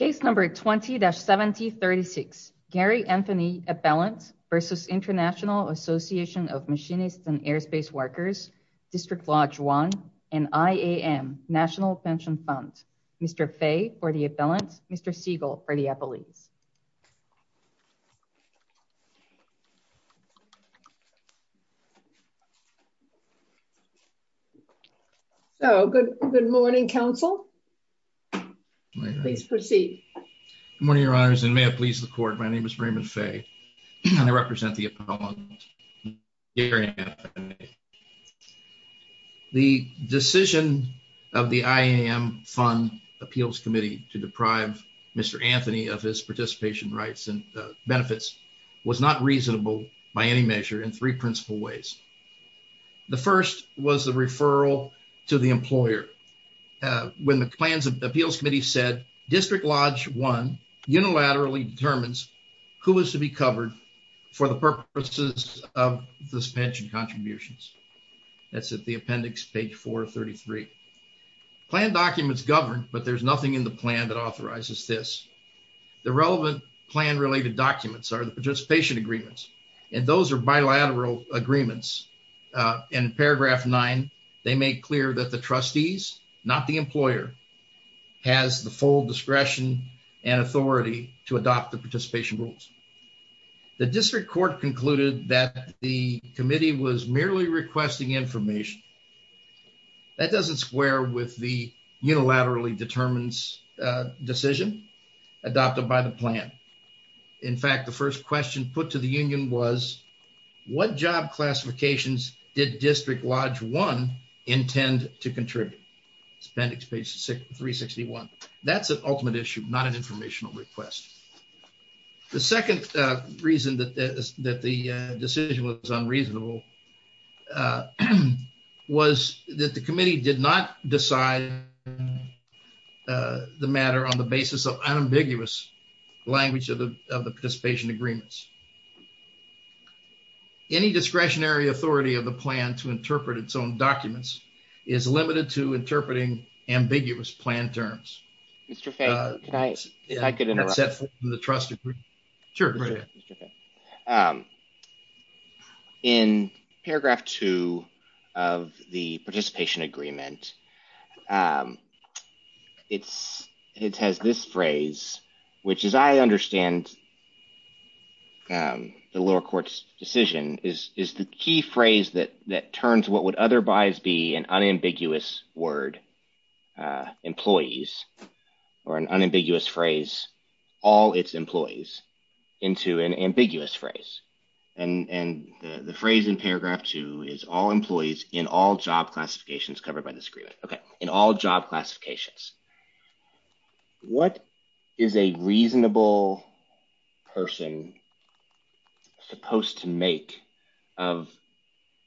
Machinists and Airspace Workers, District Lodge 1, and IAM, National Pension Fund. Mr. Fay for the appellants, Mr. Siegel for the appellees. So, good morning, counsel. Please proceed. Good morning, your honors, and may it please the court, my name is Raymond Fay, and I represent the appellants. The decision of the IAM Fund Appeals Committee to deprive Mr. Anthony of his participation rights and benefits was not reasonable by any measure in three principal ways. The first was the referral to the employer. When the Plans and Appeals Committee said District Lodge 1 unilaterally determines who is to be covered for the purposes of this pension contributions. That's at the appendix page 433. Planned documents govern, but there's nothing in the plan that authorizes this. The relevant plan-related documents are the participation agreements, and those are bilateral agreements. In paragraph 9, they make clear that the trustees, not the employer, has the full discretion and authority to adopt the participation rules. The district court concluded that the committee was merely requesting information. That doesn't square with the unilaterally determines decision adopted by the plan. In fact, the first question put to the union was, what job classifications did District Lodge 1 intend to contribute? It's appendix page 361. That's an ultimate issue, not an informational request. The second reason that the decision was unreasonable was that the committee did not decide the matter on the basis of unambiguous language of the participation agreements. Any discretionary authority of the plan to interpret its own documents is limited to interpreting ambiguous plan terms. Mr. Fay, can I interrupt? In paragraph 2 of the participation agreement, it has this phrase, which, as I understand the lower court's decision, is the key phrase that turns what would otherwise be an unambiguous word, employees, or an unambiguous phrase, all its employees, into an ambiguous phrase. And the phrase in paragraph 2 is all employees in all job classifications covered by this agreement. Okay, in all job classifications. What is a reasonable person supposed to make of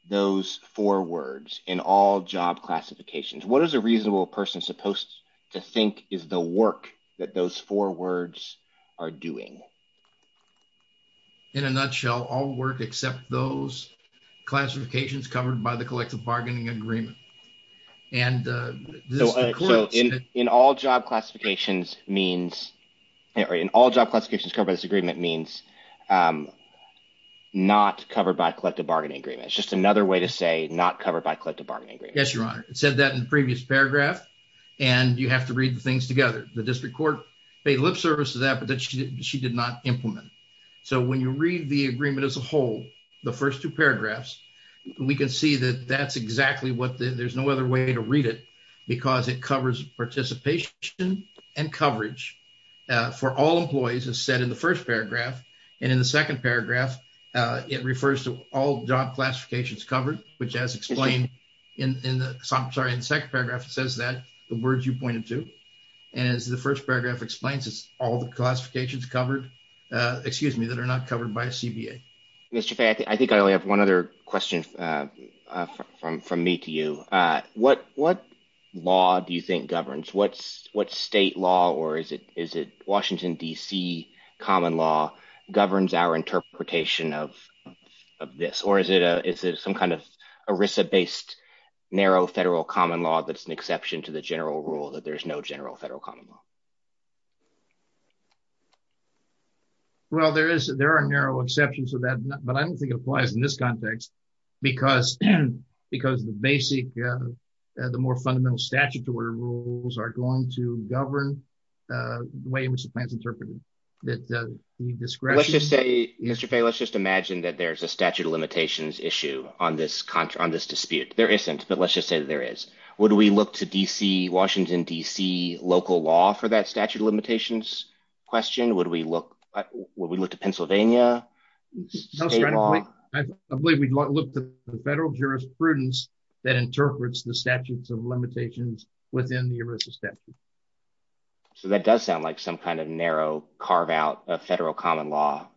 those four words in all job classifications? What is a reasonable person supposed to think is the work that those four words are doing? In a nutshell, all work except those classifications covered by the collective bargaining agreement. And in all job classifications means, in all job classifications covered by this agreement means not covered by collective bargaining agreement. It's just another way to say not covered by collective bargaining agreement. Yes, Your Honor. It said that in the previous paragraph, and you have to read the things together. The district court paid lip service to that, but she did not implement it. So when you read the agreement as a whole, the first two paragraphs, we can see that that's exactly what there's no other way to read it, because it covers participation and coverage for all employees, as said in the first paragraph. And in the second paragraph, it refers to all job classifications covered, which as explained in the second paragraph, says that the words you pointed to and as the first paragraph explains, it's all the classifications covered, excuse me, that are not covered by a CBA. Mr. Fay, I think I only have one other question from from me to you. What what law do you think governs what's what state law or is it is it Washington, D.C. common law governs our interpretation of this? Or is it a is it some kind of Arisa based narrow federal common law? That's an exception to the general rule that there's no general federal common law. Well, there is there are narrow exceptions to that, but I don't think it applies in this context because because the basic, the more fundamental statutory rules are going to govern the way in which the plan is interpreted that the discretion. Let's just say, Mr. Fay, let's just imagine that there's a statute of limitations issue on this country, on this dispute. There isn't. But let's just say that there is. Would we look to D.C., Washington, D.C., local law for that statute of limitations question? Would we look would we look to Pennsylvania? I believe we'd look to the federal jurisprudence that interprets the statutes of limitations within the Arisa statute. So that does sound like some kind of narrow carve out a federal common law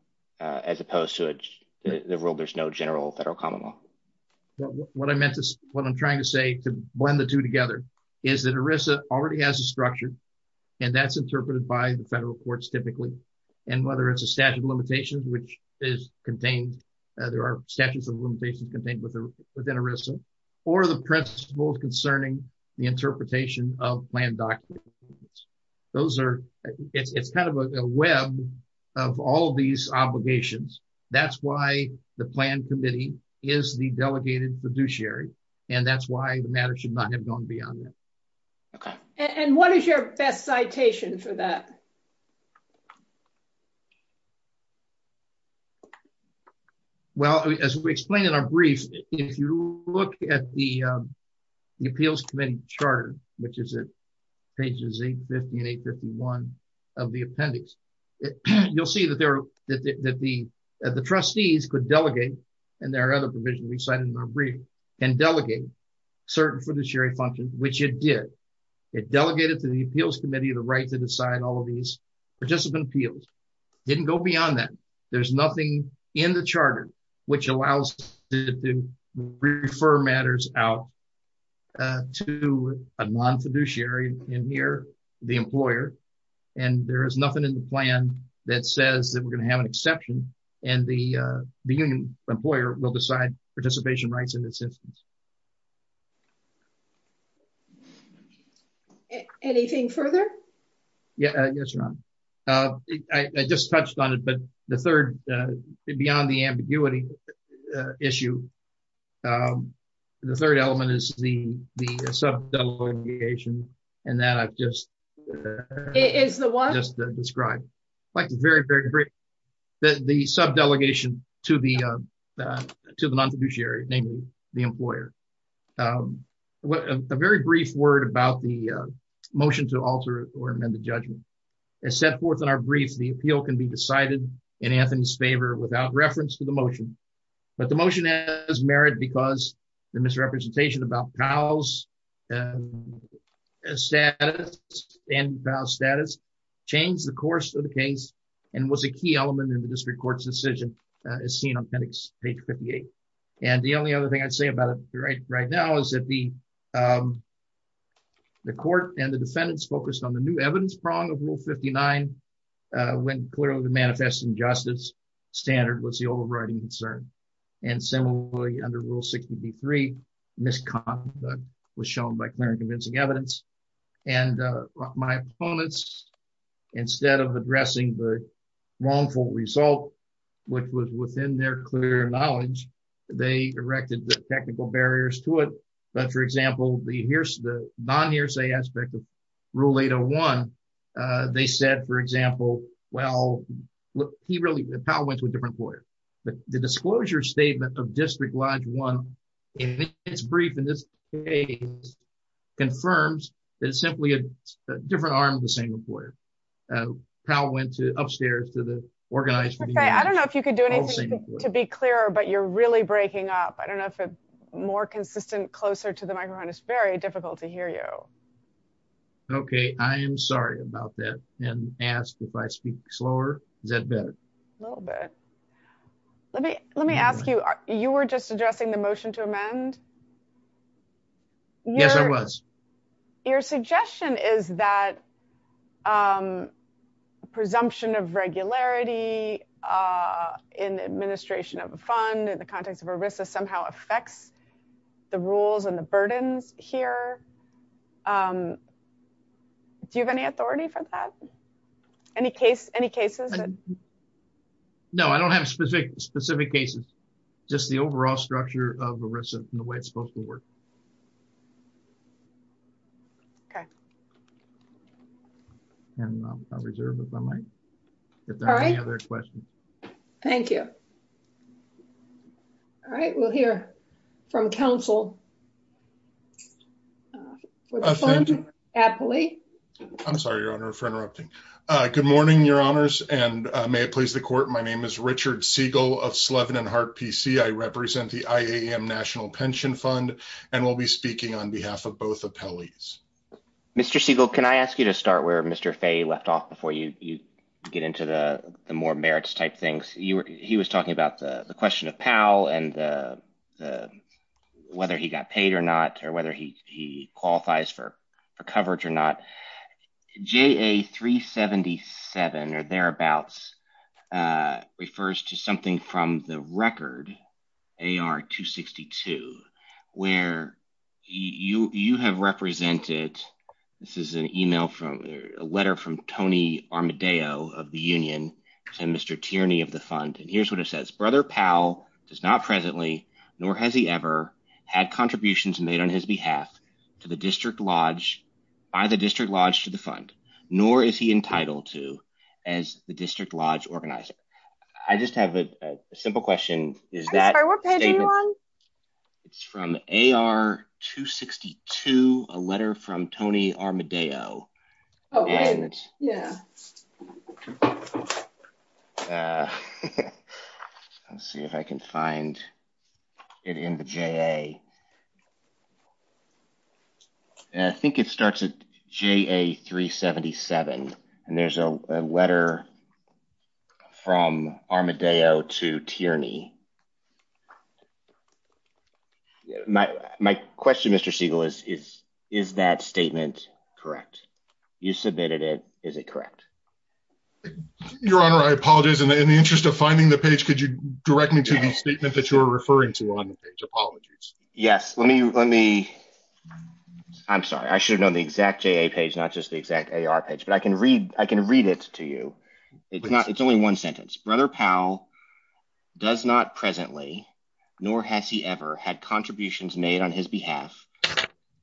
as opposed to the rule, there's no general federal common law. What I meant is what I'm trying to say to blend the two together is that Arisa already has a structure and that's interpreted by the federal courts typically. And whether it's a statute of limitations, which is contained, there are statutes of limitations contained within Arisa or the principles concerning the interpretation of plan documents. Those are it's kind of a web of all these obligations. That's why the plan committee is the delegated fiduciary. And that's why the matter should not have gone beyond that. And what is your best citation for that? Well, as we explained in our brief, if you look at the appeals committee charter, which is pages 850 and 851 of the appendix, you'll see that the trustees could delegate, and there are other provisions we cited in our brief, and delegate certain fiduciary functions, which it did. It delegated to the appeals committee the right to decide all of these participant appeals. It didn't go beyond that. There's nothing in the charter, which allows to refer matters out to a non fiduciary in here, the employer. And there is nothing in the plan that says that we're going to have an exception, and the union employer will decide participation rights in this instance. Anything further? Yes, Ron. I just touched on it, but the third, beyond the ambiguity issue, the third element is the subdelegation, and that I've just described. The subdelegation to the non fiduciary, namely the employer. A very brief word about the motion to alter or amend the judgment. As set forth in our brief, the appeal can be decided in Anthony's favor without reference to the motion. But the motion has merit because the misrepresentation about Powell's status changed the course of the case, and was a key element in the district court's decision, as seen on page 58. And the only other thing I'd say about it right now is that the court and the defendants focused on the new evidence prong of Rule 59, when clearly the manifest injustice standard was the overriding concern. And similarly, under Rule 63, misconduct was shown by clear and convincing evidence. And my opponents, instead of addressing the wrongful result, which was within their clear knowledge, they erected the technical barriers to it. But, for example, the non-near say aspect of Rule 801, they said, for example, well, Powell went to a different employer. But the disclosure statement of District Lodge 1, in its brief, in this case, confirms that it's simply a different arm of the same employer. Powell went upstairs to the organized... I don't know if you could do anything to be clearer, but you're really breaking up. I don't know if it's more consistent, closer to the microphone. It's very difficult to hear you. Okay. I am sorry about that, and asked if I speak slower. Is that better? A little bit. Let me ask you, you were just addressing the motion to amend? Yes, I was. Your suggestion is that presumption of regularity in the administration of a fund, in the context of ERISA, somehow affects the rules and the burdens here. Do you have any authority for that? Any cases? No, I don't have specific cases. Just the overall structure of ERISA and the way it's supposed to work. Okay. And I'll reserve the mic if there are any other questions. Thank you. All right. We'll hear from counsel. Thank you. I'm sorry, Your Honor, for interrupting. Good morning, Your Honors, and may it please the court. My name is Richard Siegel of Slevin and Hart PC. I represent the IAM National Pension Fund, and will be speaking on behalf of both appellees. Mr. Siegel, can I ask you to start where Mr. Fay left off before you get into the more merits-type things? He was talking about the question of Powell and whether he got paid or not, or whether he qualifies for coverage or not. JA-377, or thereabouts, refers to something from the record, AR-262, where you have represented – this is an email from – a letter from Tony Armadale of the union to Mr. Tierney of the fund. And here's what it says. I just have a simple question. I'm sorry, what page are you on? It's from AR-262, a letter from Tony Armadale. Yeah. Let's see if I can find it in the JA. I think it starts at JA-377, and there's a letter from Armadale to Tierney. My question, Mr. Siegel, is, is that statement correct? You submitted it. Is it correct? Your Honor, I apologize. In the interest of finding the page, could you direct me to the statement that you were referring to on the page? Apologies. Yes. Let me – I'm sorry. I should have known the exact JA page, not just the exact AR page. But I can read it to you. It's only one sentence. Brother Powell does not presently, nor has he ever, had contributions made on his behalf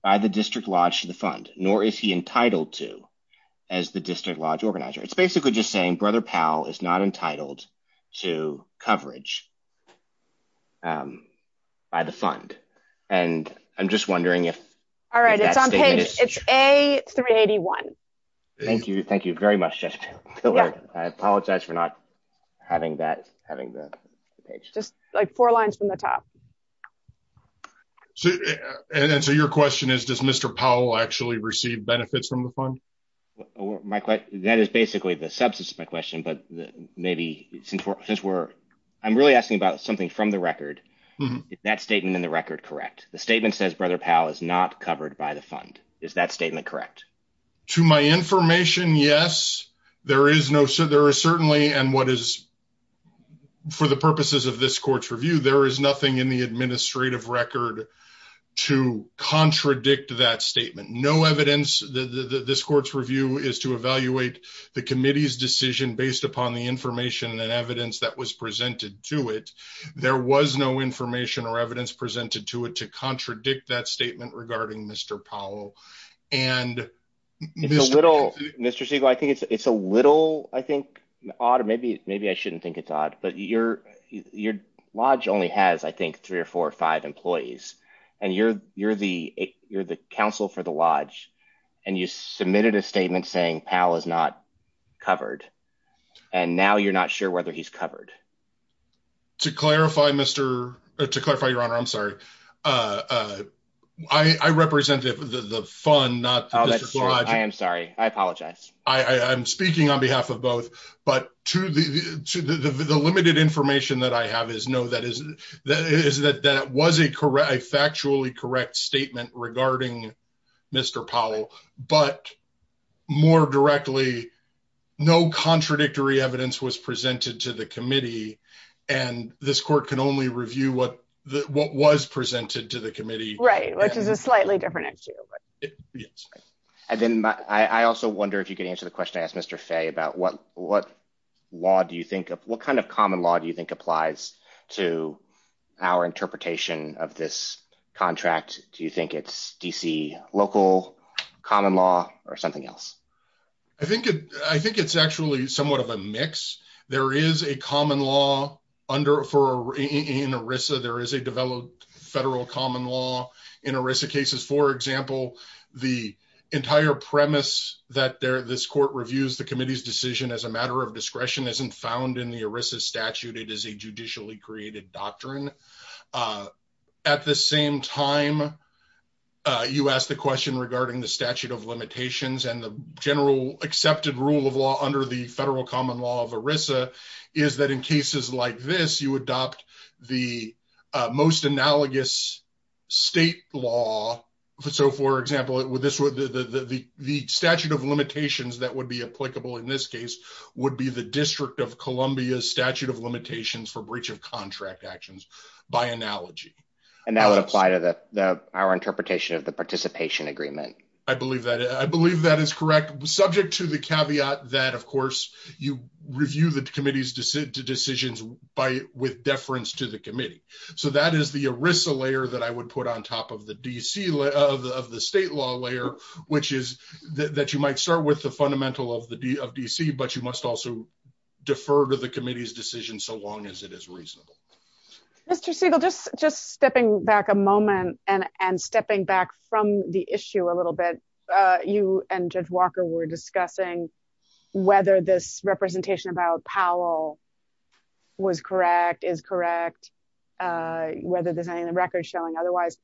by the district lodge to the fund, nor is he entitled to as the district lodge organizer. It's basically just saying Brother Powell is not entitled to coverage by the fund. And I'm just wondering if that statement is – All right. It's on page – it's A-381. Thank you. Thank you very much, Justice Pillard. I apologize for not having that – having the page. Just, like, four lines from the top. And so your question is, does Mr. Powell actually receive benefits from the fund? That is basically the substance of my question, but maybe since we're – I'm really asking about something from the record. Is that statement in the record correct? The statement says Brother Powell is not covered by the fund. Is that statement correct? To my information, yes. There is no – there is certainly – and what is – for the purposes of this court's review, there is nothing in the administrative record to contradict that statement. No evidence – this court's review is to evaluate the committee's decision based upon the information and evidence that was presented to it. There was no information or evidence presented to it to contradict that statement regarding Mr. Powell. And Mr. Siegel – It's a little – Mr. Siegel, I think it's a little, I think, odd, or maybe I shouldn't think it's odd, but your lodge only has, I think, three or four or five employees. And you're the counsel for the lodge, and you submitted a statement saying Powell is not covered. And now you're not sure whether he's covered. To clarify, Mr. – to clarify, Your Honor, I'm sorry. I represent the fund, not the district lodge. Oh, that's true. I am sorry. I apologize. I'm speaking on behalf of both. But to the limited information that I have is no, that is – is that that was a factually correct statement regarding Mr. Powell. But more directly, no contradictory evidence was presented to the committee, and this court can only review what was presented to the committee. Right, which is a slightly different issue. Yes. And then I also wonder if you could answer the question I asked Mr. Fay about what law do you think – what kind of common law do you think applies to our interpretation of this contract? Do you think it's D.C. local, common law, or something else? I think it's actually somewhat of a mix. There is a common law under – in ERISA. There is a developed federal common law in ERISA cases. For example, the entire premise that this court reviews the committee's decision as a matter of discretion isn't found in the ERISA statute. It is a judicially created doctrine. At the same time, you asked the question regarding the statute of limitations and the general accepted rule of law under the federal common law of ERISA is that in cases like this, you adopt the most analogous state law. So, for example, the statute of limitations that would be applicable in this case would be the District of Columbia's statute of limitations for breach of contract actions by analogy. And that would apply to our interpretation of the participation agreement. I believe that is correct, subject to the caveat that, of course, you review the committee's decisions with deference to the committee. So, that is the ERISA layer that I would put on top of the state law layer, which is that you might start with the fundamental of DC, but you must also defer to the committee's decision so long as it is reasonable. Mr. Siegel, just stepping back a moment and stepping back from the issue a little bit. You and Judge Walker were discussing whether this representation about Powell was correct, is correct, whether there's any record showing otherwise.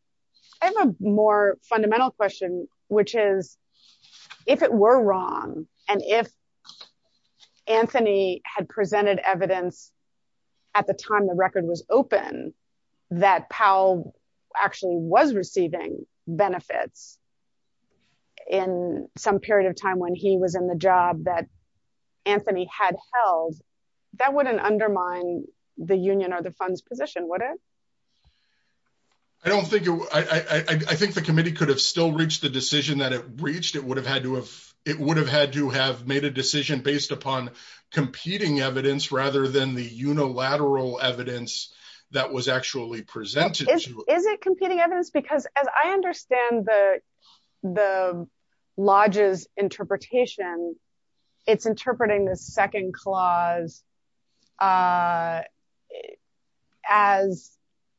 I have a more fundamental question, which is, if it were wrong, and if Anthony had presented evidence at the time the record was open that Powell actually was receiving benefits in some period of time when he was in the job that Anthony had held, that wouldn't undermine the union or the fund's position, would it? I don't think it would. I think the committee could have still reached the decision that it reached. It would have had to have made a decision based upon competing evidence rather than the unilateral evidence that was actually presented. Is it competing evidence? Because as I understand the Lodge's interpretation, it's interpreting the second clause as,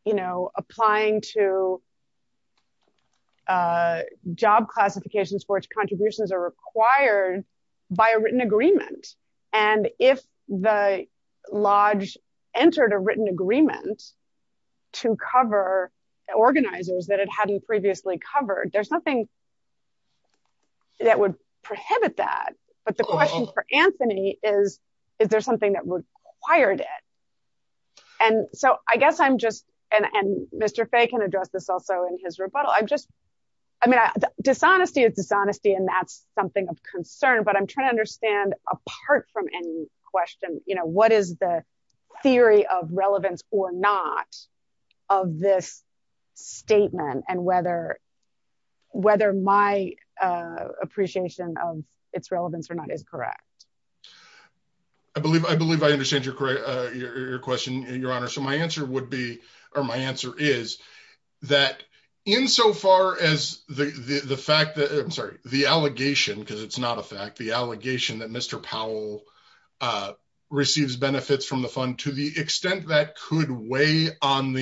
you know, applying to job classifications for which contributions are required by a written agreement. And if the Lodge entered a written agreement to cover organizers that it hadn't previously covered, there's nothing that would prohibit that. But the question for Anthony is, is there something that required it? And so I guess I'm just, and Mr. Fay can address this also in his rebuttal, I'm just, I mean, dishonesty is dishonesty and that's something of concern, but I'm trying to understand apart from any question, you know, what is the theory of relevance or not of this statement and whether my appreciation of its relevance or not is correct? I believe I understand your question, Your Honor. So my answer would be, or my answer is that insofar as the fact that, I'm sorry, the allegation, because it's not a fact, the allegation that Mr. Powell receives benefits from the fund to the extent that could weigh on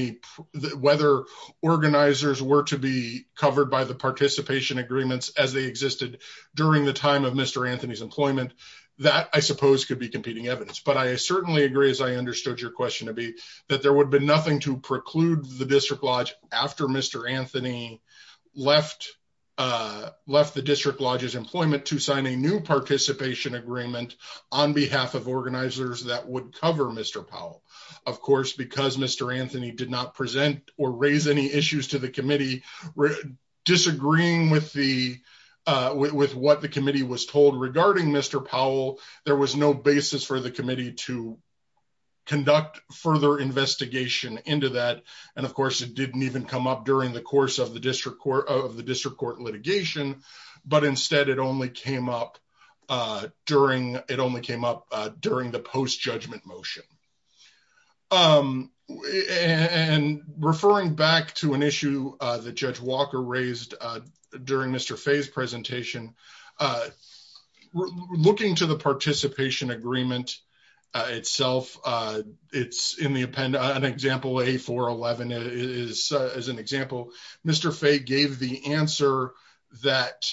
whether organizers were to be covered by the participation agreements as they existed during the time of Mr. Anthony's employment. That I suppose could be competing evidence, but I certainly agree as I understood your question to be that there would be nothing to preclude the District Lodge after Mr. Anthony left the District Lodge's employment to sign a new participation agreement on behalf of organizers that would cover Mr. Powell. Of course, because Mr. Anthony did not present or raise any issues to the committee, disagreeing with the, with what the committee was told regarding Mr. Powell, there was no basis for the committee to conduct further investigation into that. And of course, it didn't even come up during the course of the district court, of the district court litigation, but instead it only came up during, it only came up during the post-judgment motion. And referring back to an issue that Judge Walker raised during Mr. Fay's presentation, looking to the participation agreement itself, it's in the append, an example, A411 is as an example, Mr. Fay gave the answer that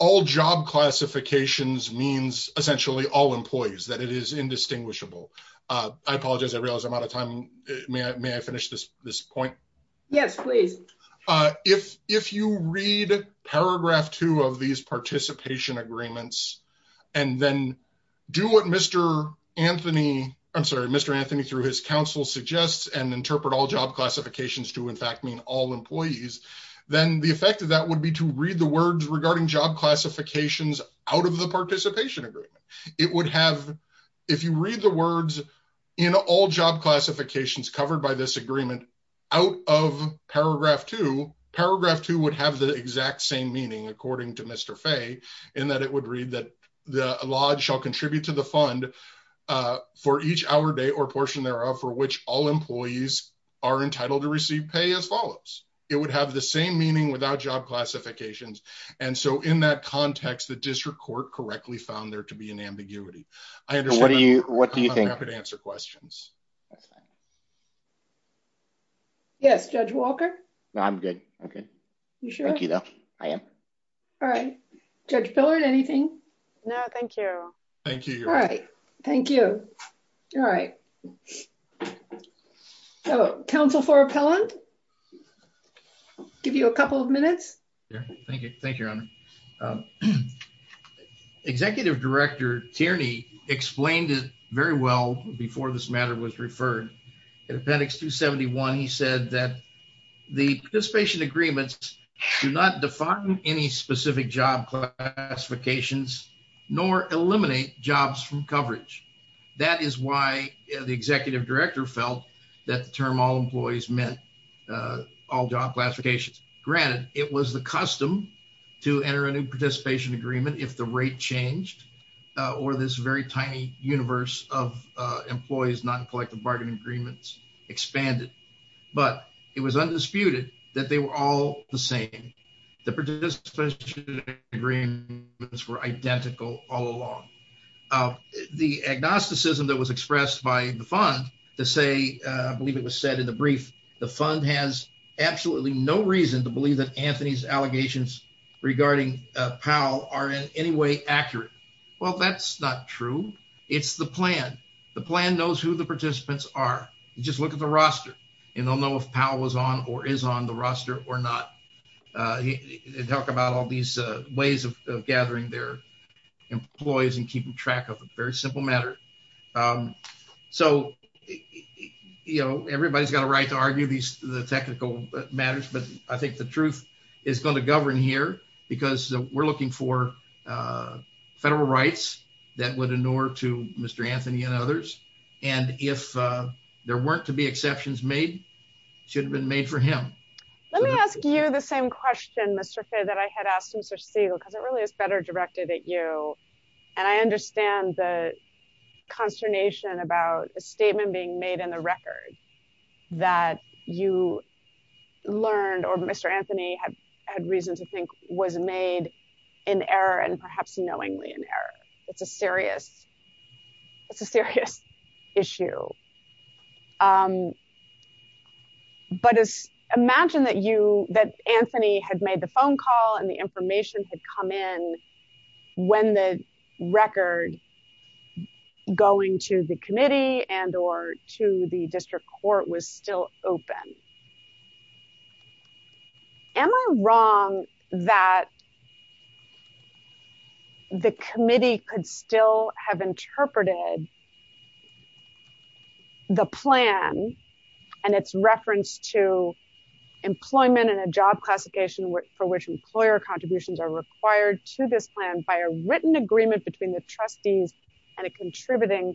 all job classifications means essentially all employees, that it is indistinguishable. I apologize, I realize I'm out of time. May I finish this point? Yes, please. If you read paragraph two of these participation agreements, and then do what Mr. Anthony, I'm sorry, Mr. Anthony through his counsel suggests and interpret all job classifications to in fact mean all employees, then the effect of that would be to read the words regarding job classifications out of the participation agreement. It would have, if you read the words in all job classifications covered by this agreement, out of paragraph two, paragraph two would have the exact same meaning according to Mr. Fay, in that it would read that the lodge shall contribute to the fund for each hour day or portion thereof for which all employees are entitled to receive pay as follows. It would have the same meaning without job classifications. And so in that context, the district court correctly found there to be an ambiguity. I understand. What do you, what do you think? I'm happy to answer questions. Yes, Judge Walker. I'm good. Okay. You sure? Thank you, though. I am. All right, Judge Pillard, anything? No, thank you. Thank you. All right. Thank you. All right. Oh, counsel for appellant. Give you a couple of minutes. Thank you. Thank you. Executive director Tierney explained it very well before this matter was referred to appendix to 71. He said that the participation agreements do not define any specific job classifications nor eliminate jobs from coverage. That is why the executive director felt that the term all employees meant all job classifications. Granted, it was the custom to enter a new participation agreement if the rate changed or this very tiny universe of employees, not collective bargaining agreements expanded. But it was undisputed that they were all the same. The participants were identical all along. The agnosticism that was expressed by the fund to say, I believe it was said in the brief, the fund has absolutely no reason to believe that Anthony's allegations regarding Powell are in any way accurate. Well, that's not true. It's the plan. The plan knows who the participants are. Just look at the roster and they'll know if Powell was on or is on the roster or not. Talk about all these ways of gathering their employees and keeping track of a very simple matter. So, you know, everybody's got a right to argue these technical matters, but I think the truth is going to govern here because we're looking for federal rights that would ignore to Mr. Anthony and others. And if there weren't to be exceptions made, should have been made for him. Let me ask you the same question, Mr. Fay, that I had asked Mr. Segal because it really is better directed at you. And I understand the consternation about a statement being made in the record that you learned or Mr. Anthony had had reason to think was made in error and perhaps knowingly in error. It's a serious. It's a serious issue. But imagine that you that Anthony had made the phone call and the information had come in when the record going to the committee and or to the district court was still open. Am I wrong that the committee could still have interpreted the plan and its reference to employment and a job classification for which employer contributions are required to this plan by a written agreement between the trustees and a contributing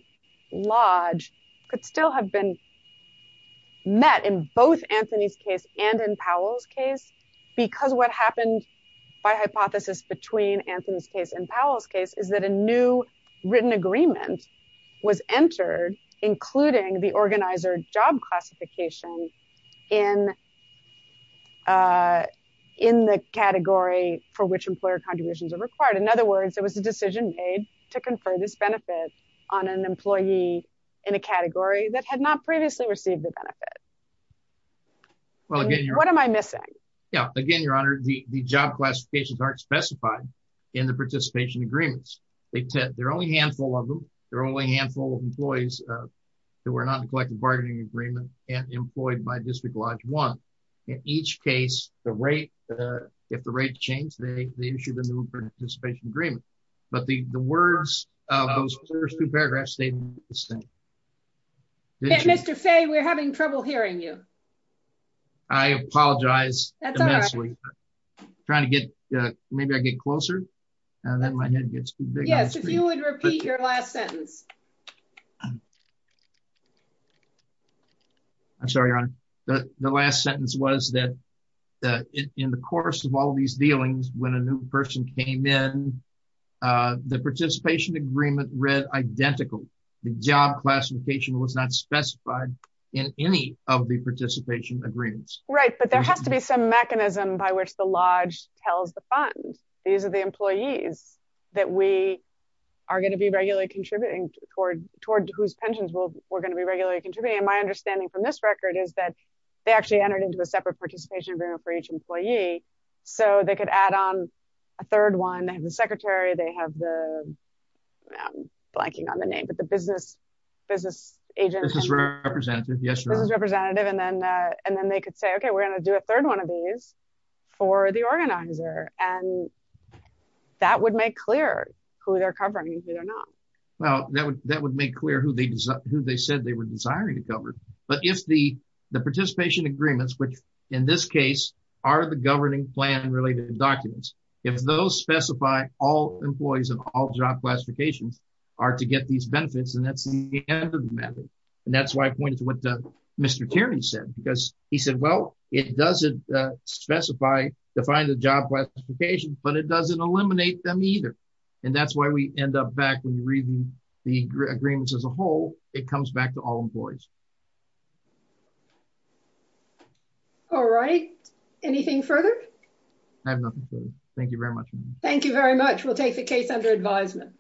lodge could still have been met in both Anthony's case and in Powell's case, because what happened by hypothesis between Anthony's case and Powell's case is that a new written agreement was entered, including the organizer job classification in the category for which employer contributions are required. In other words, it was a decision made to confer this benefit on an employee in a category that had not previously received the benefit. What am I missing? Yeah, again, Your Honor, the job classifications aren't specified in the participation agreements. They're only handful of them. They're only handful of employees that were not collected bargaining agreement and employed by District Lodge one. In each case, the rate. If the rate change they issued a new participation agreement, but the words of those first two paragraphs statement. Mr Fay we're having trouble hearing you. I apologize. Trying to get maybe I get closer, and then my head gets too big. Yes, if you would repeat your last sentence. I'm sorry on the last sentence was that in the course of all these dealings when a new person came in the participation agreement read identical the job classification was not specified in any of the participation agreements. Right. But there has to be some mechanism by which the Lodge tells the fund. These are the employees that we are going to be regularly contributing toward toward whose pensions will we're going to be regularly contributing my understanding from this record is that they actually entered into a separate participation agreement for each employee. So they could add on a third one and the secretary they have the blanking on the name but the business business agent representative yes representative and then, and then they could say okay we're going to do a third one of these for the organizer, and that would make clear who they're covering it or not. Well, that would that would make clear who they who they said they were desiring to cover, but if the participation agreements which, in this case, are the governing plan related documents. If those specify all employees and all job classifications are to get these benefits and that's the end of the matter. And that's why I pointed to what Mr Terry said because he said well, it doesn't specify define the job classification, but it doesn't eliminate them either. And that's why we end up back when you read the agreements as a whole, it comes back to all employees. All right. Anything further. Thank you very much. Thank you very much. We'll take the case under advisement.